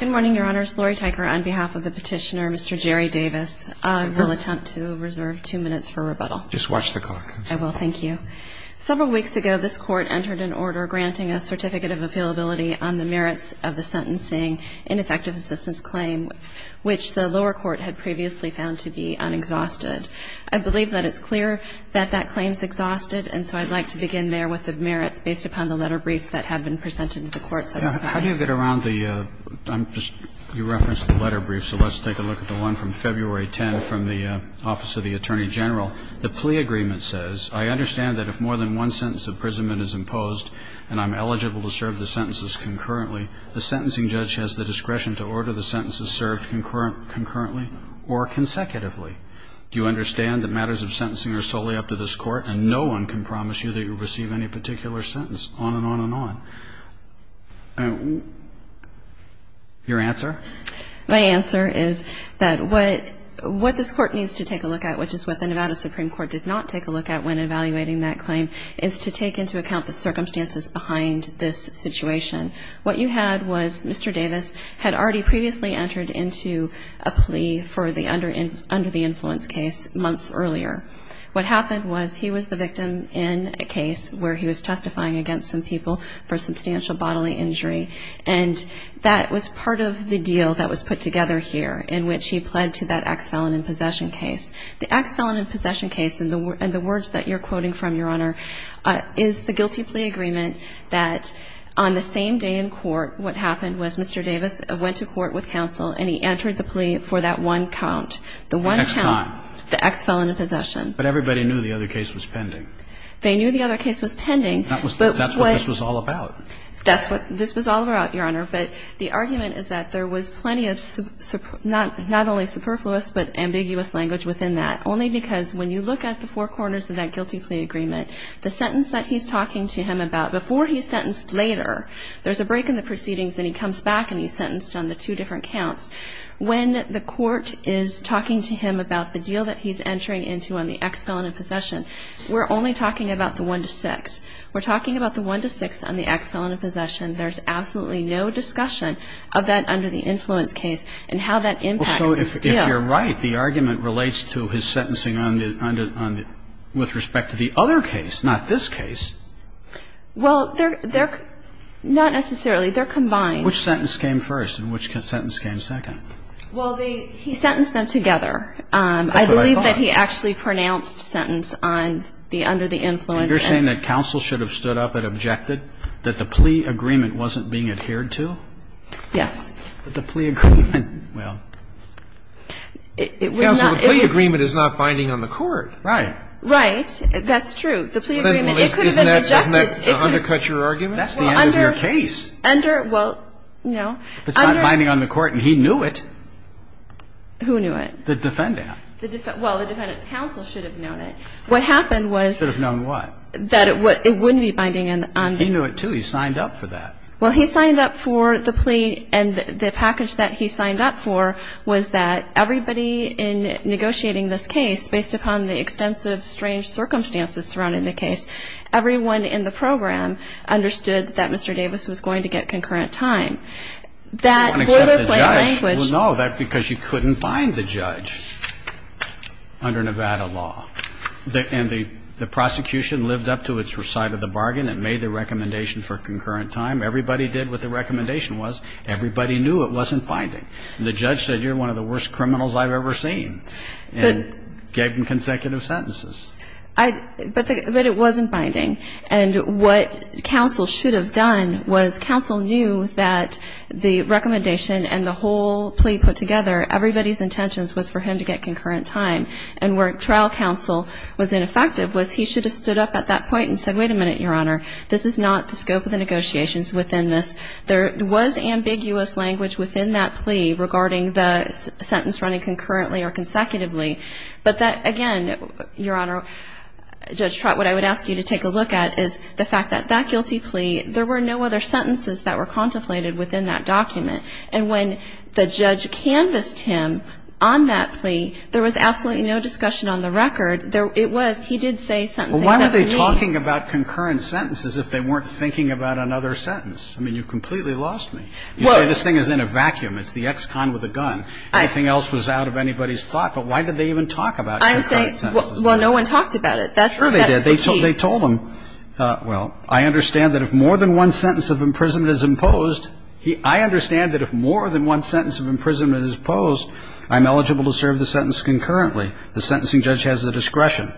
Good morning, Your Honors. Laurie Teicher on behalf of the petitioner, Mr. Jerry Davis, will attempt to reserve two minutes for rebuttal. Just watch the clock. I will. Thank you. Several weeks ago, this Court entered an order granting a Certificate of Affeasibility on the merits of the sentencing in effective assistance claim, which the lower court had previously found to be unexhausted. I believe that it's clear that that claim is exhausted, and so I'd like to begin there with the merits based upon the letter briefs that have been presented to the Court. How do you get around the – I'm just – you referenced the letter brief, so let's take a look at the one from February 10 from the Office of the Attorney General. The plea agreement says, I understand that if more than one sentence of imprisonment is imposed and I'm eligible to serve the sentences concurrently, the sentencing judge has the discretion to order the sentences served concurrently or consecutively. Do you understand that matters of sentencing are solely up to this Court and no one can promise you that you'll receive any particular sentence? On and on and on. Your answer? My answer is that what this Court needs to take a look at, which is what the Nevada Supreme Court did not take a look at when evaluating that claim, is to take into account the circumstances behind this situation. What you had was Mr. Davis had already previously entered into a plea for the under the influence case months earlier. What happened was he was the victim in a case where he was testifying against some people for substantial bodily injury and that was part of the deal that was put together here in which he pled to that ex-felon in possession case. The ex-felon in possession case and the words that you're quoting from, Your Honor, is the guilty plea agreement that on the same day in court what happened was Mr. Davis went to court with counsel and he entered the plea for that one count. The one count. The ex-felon. The ex-felon in possession. But everybody knew the other case was pending. They knew the other case was pending. That's what this was all about. That's what this was all about, Your Honor, but the argument is that there was plenty of not only superfluous but ambiguous language within that only because when you look at the four corners of that guilty plea agreement, the sentence that he's talking to him about before he's sentenced later, there's a break in the proceedings and he comes back and he's sentenced on the two different counts. When the court is talking to him about the deal that he's entering into on the ex-felon in possession, we're only talking about the one to six. We're talking about the one to six on the ex-felon in possession. There's absolutely no discussion of that under the influence case and how that impacts this deal. Well, so if you're right, the argument relates to his sentencing on the other case, not this case. Well, they're not necessarily. They're combined. Which sentence came first and which sentence came second? Well, he sentenced them together. That's what I thought. I believe that he actually pronounced sentence on the under the influence. You're saying that counsel should have stood up and objected that the plea agreement wasn't being adhered to? Yes. But the plea agreement, well. It was not. Counsel, the plea agreement is not binding on the court. Right. Right. That's true. The plea agreement, it could have been objected. Doesn't that undercut your argument? That's the end of your case. Under, well, no. It's not binding on the court and he knew it. Who knew it? The defendant. Well, the defendant's counsel should have known it. What happened was. Should have known what? That it wouldn't be binding on. He knew it, too. He signed up for that. Well, he signed up for the plea and the package that he signed up for was that everybody in negotiating this case, based upon the extensive strange circumstances surrounding the case, everyone in the program understood that Mr. Davis was going to get concurrent time. That boilerplate language. Well, no. That's because you couldn't bind the judge under Nevada law. And the prosecution lived up to its side of the bargain and made the recommendation for concurrent time. Everybody did what the recommendation was. Everybody knew it wasn't binding. And the judge said, you're one of the worst criminals I've ever seen and gave him consecutive sentences. But it wasn't binding. And what counsel should have done was counsel knew that the recommendation and the whole plea put together, everybody's intentions was for him to get concurrent time. And where trial counsel was ineffective was he should have stood up at that point and said, wait a minute, Your Honor, this is not the scope of the negotiations within this. There was ambiguous language within that plea regarding the sentence running concurrently or consecutively. But that, again, Your Honor, Judge Trott, what I would ask you to take a look at is the fact that that guilty plea, there were no other sentences that were contemplated within that document. And when the judge canvassed him on that plea, there was absolutely no discussion on the record. It was, he did say sentencing is up to me. Well, why were they talking about concurrent sentences if they weren't thinking about another sentence? I mean, you completely lost me. You say this thing is in a vacuum. It's the ex-con with a gun. Anything else was out of anybody's thought. But why did they even talk about concurrent sentences? Well, no one talked about it. That's the key. Sure they did. They told him, well, I understand that if more than one sentence of imprisonment is imposed, I understand that if more than one sentence of imprisonment is imposed, I'm eligible to serve the sentence concurrently. The sentencing judge has the discretion.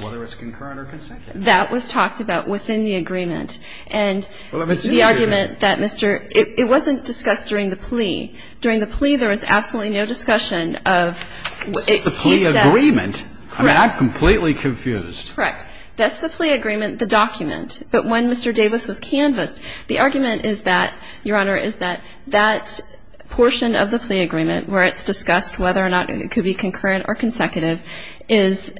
Whether it's concurrent or consecutive. That was talked about within the agreement. And the argument that Mr. It wasn't discussed during the plea. During the plea there was absolutely no discussion of what he said. This is the plea agreement. Correct. I mean, I'm completely confused. Correct. That's the plea agreement, the document. But when Mr. Davis was canvassed, the argument is that, Your Honor, is that that portion of the plea agreement where it's discussed whether or not it could be concurrent or consecutive is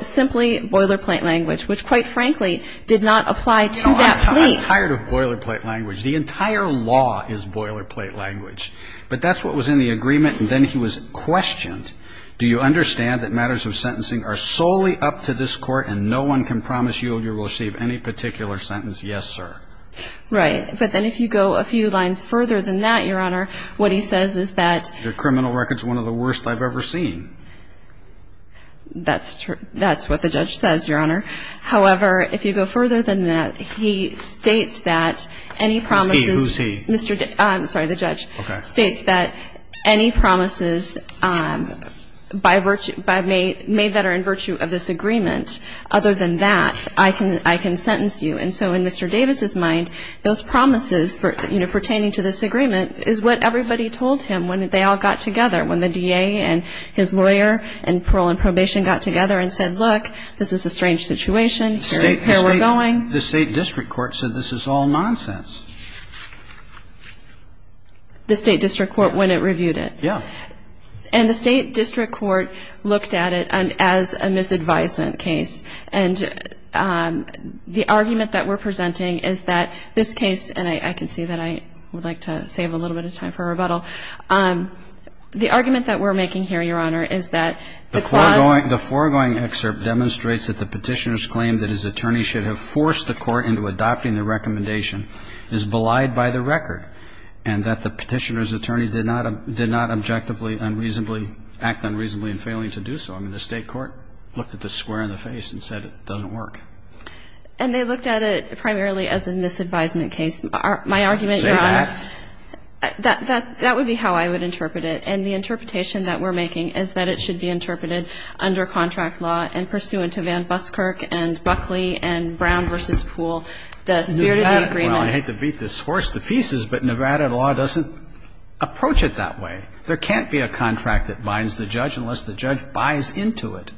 simply boilerplate language, which quite frankly did not apply to that plea. No, I'm tired of boilerplate language. The entire law is boilerplate language. But that's what was in the agreement. And then he was questioned. Do you understand that matters of sentencing are solely up to this Court and no one can promise you you will receive any particular sentence? Yes, sir. Right. But then if you go a few lines further than that, Your Honor, what he says is that Your criminal record is one of the worst I've ever seen. That's true. That's what the judge says, Your Honor. However, if you go further than that, he states that any promises Who's he? Who's he? I'm sorry, the judge. Okay. States that any promises made that are in virtue of this agreement, other than that, I can sentence you. And so in Mr. Davis' mind, those promises pertaining to this agreement is what everybody told him when they all got together, when the DA and his lawyer and parole and probation got together and said, look, this is a strange situation, here we're going. And then the State District Court said this is all nonsense. The State District Court when it reviewed it? Yeah. And the State District Court looked at it as a misadvisement case. And the argument that we're presenting is that this case, and I can see that I would like to save a little bit of time for rebuttal. The argument that we're making here, Your Honor, is that the clause The foregoing excerpt demonstrates that the petitioner's claim that his attorney should have forced the court into adopting the recommendation is belied by the record, and that the petitioner's attorney did not objectively, unreasonably act unreasonably in failing to do so. I mean, the State Court looked at this square in the face and said it doesn't work. And they looked at it primarily as a misadvisement case. My argument, Your Honor, Say that. That would be how I would interpret it. And the interpretation that we're making is that it should be interpreted under contract law and pursuant to Van Buskirk and Buckley and Brown v. Pool, the spirit of the agreement Well, I hate to beat this horse to pieces, but Nevada law doesn't approach it that way. There can't be a contract that binds the judge unless the judge buys into it.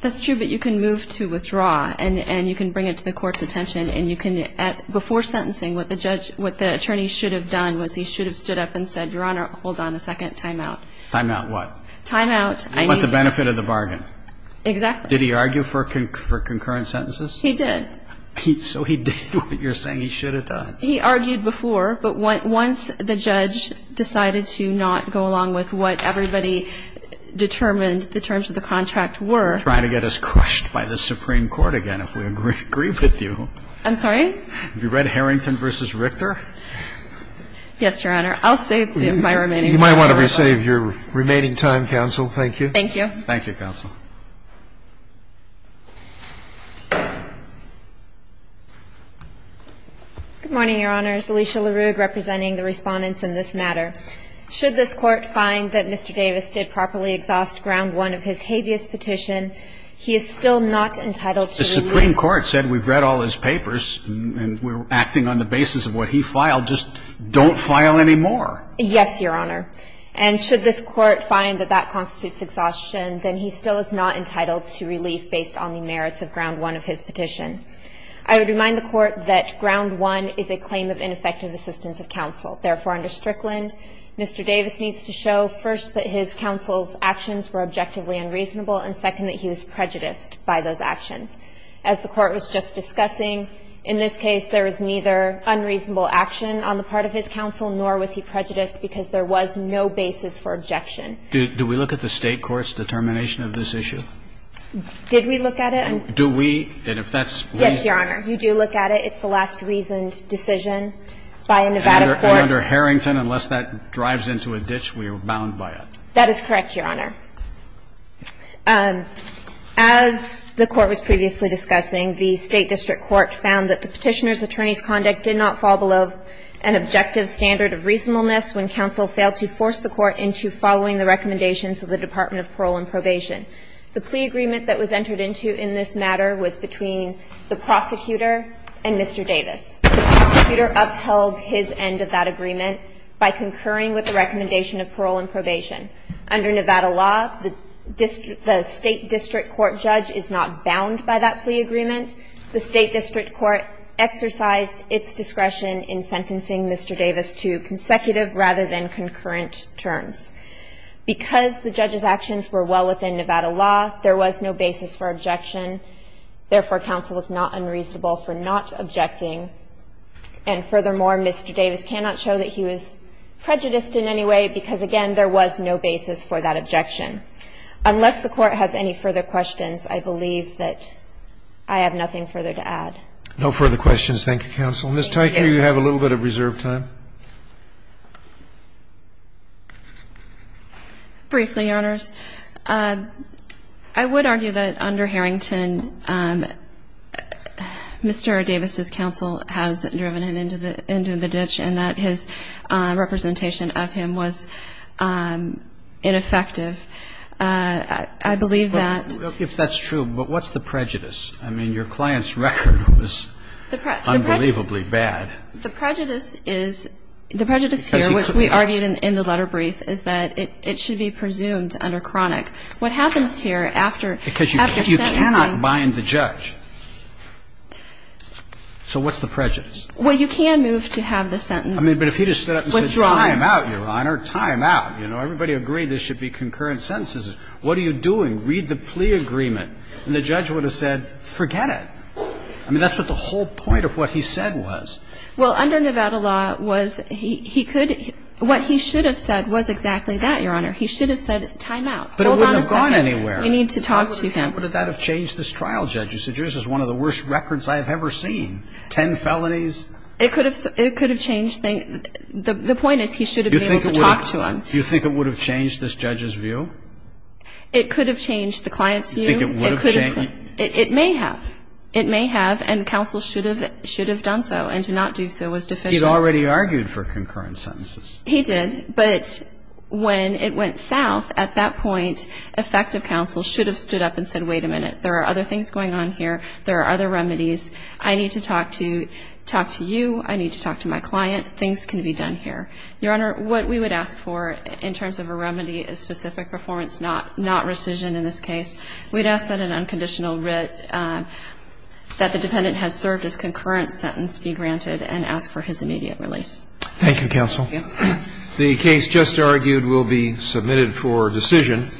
That's true, but you can move to withdraw, and you can bring it to the Court's attention, and you can, before sentencing, what the judge, what the attorney should have done was he should have stood up and said, Your Honor, hold on a second, timeout. Timeout what? Timeout. What about the benefit of the bargain? Exactly. Did he argue for concurrent sentences? He did. So he did what you're saying he should have done. He argued before, but once the judge decided to not go along with what everybody determined the terms of the contract were Trying to get us crushed by the Supreme Court again, if we agree with you. I'm sorry? Yes, Your Honor. I'll save my remaining time. You might want to re-save your remaining time, Counsel. Thank you. Thank you. Thank you, Counsel. Good morning, Your Honors. Alicia LaRue representing the Respondents in this matter. Should this Court find that Mr. Davis did properly exhaust Ground 1 of his habeas petition, he is still not entitled to the release. The Supreme Court said we've read all his papers, and we're acting on the basis of what he filed. Just don't file any more. Yes, Your Honor. And should this Court find that that constitutes exhaustion, then he still is not entitled to relief based on the merits of Ground 1 of his petition. I would remind the Court that Ground 1 is a claim of ineffective assistance of counsel. Therefore, under Strickland, Mr. Davis needs to show, first, that his counsel's actions were objectively unreasonable, and, second, that he was prejudiced by those actions. As the Court was just discussing, in this case, there was neither unreasonable action on the part of his counsel, nor was he prejudiced, because there was no basis for objection. Do we look at the State court's determination of this issue? Did we look at it? Do we? And if that's the case? Yes, Your Honor. You do look at it. It's the last reasoned decision by a Nevada court. And under Harrington, unless that drives into a ditch, we are bound by it. That is correct, Your Honor. As the Court was previously discussing, the State district court found that the petitioner's conduct did not fall below an objective standard of reasonableness when counsel failed to force the Court into following the recommendations of the Department of Parole and Probation. The plea agreement that was entered into in this matter was between the prosecutor and Mr. Davis. The prosecutor upheld his end of that agreement by concurring with the recommendation of parole and probation. Under Nevada law, the State district court judge is not bound by that plea agreement. The State district court exercised its discretion in sentencing Mr. Davis to consecutive rather than concurrent terms. Because the judge's actions were well within Nevada law, there was no basis for objection. Therefore, counsel is not unreasonable for not objecting. And furthermore, Mr. Davis cannot show that he was prejudiced in any way because, again, there was no basis for that objection. Unless the Court has any further questions, I believe that I have nothing further to add. No further questions. Thank you, counsel. Ms. Tyker, you have a little bit of reserved time. Briefly, Your Honors. I would argue that under Harrington, Mr. Davis' counsel has driven him into the ditch and that his representation of him was ineffective. I believe that If that's true, but what's the prejudice? I mean, your client's record was unbelievably bad. The prejudice here, which we argued in the letter brief, is that it should be presumed under chronic. What happens here after sentencing Because you cannot bind the judge. So what's the prejudice? Well, you can move to have the sentence withdrawn. I mean, but if he just stood up and said, Time out, Your Honor. Time out. You know, everybody agreed there should be concurrent sentences. What are you doing? Read the plea agreement. And the judge would have said, Forget it. I mean, that's what the whole point of what he said was. Well, under Nevada law, what he should have said was exactly that, Your Honor. He should have said, Time out. Hold on a second. But it wouldn't have gone anywhere. You need to talk to him. How would that have changed this trial, Judge? This is one of the worst records I have ever seen. Ten felonies. It could have changed things. The point is he should have been able to talk to him. You think it would have changed this judge's view? It could have changed the client's view. You think it would have changed? It may have. It may have. And counsel should have done so. And to not do so was deficient. He had already argued for concurrent sentences. He did. But when it went south, at that point, effective counsel should have stood up and said, Wait a minute. There are other things going on here. There are other remedies. I need to talk to you. I need to talk to my client. Things can be done here. Your Honor, what we would ask for in terms of a remedy is specific performance, not rescission in this case. We would ask that an unconditional writ that the dependent has served as concurrent sentence be granted and ask for his immediate release. Thank you, counsel. Thank you. The case just argued will be submitted for decision.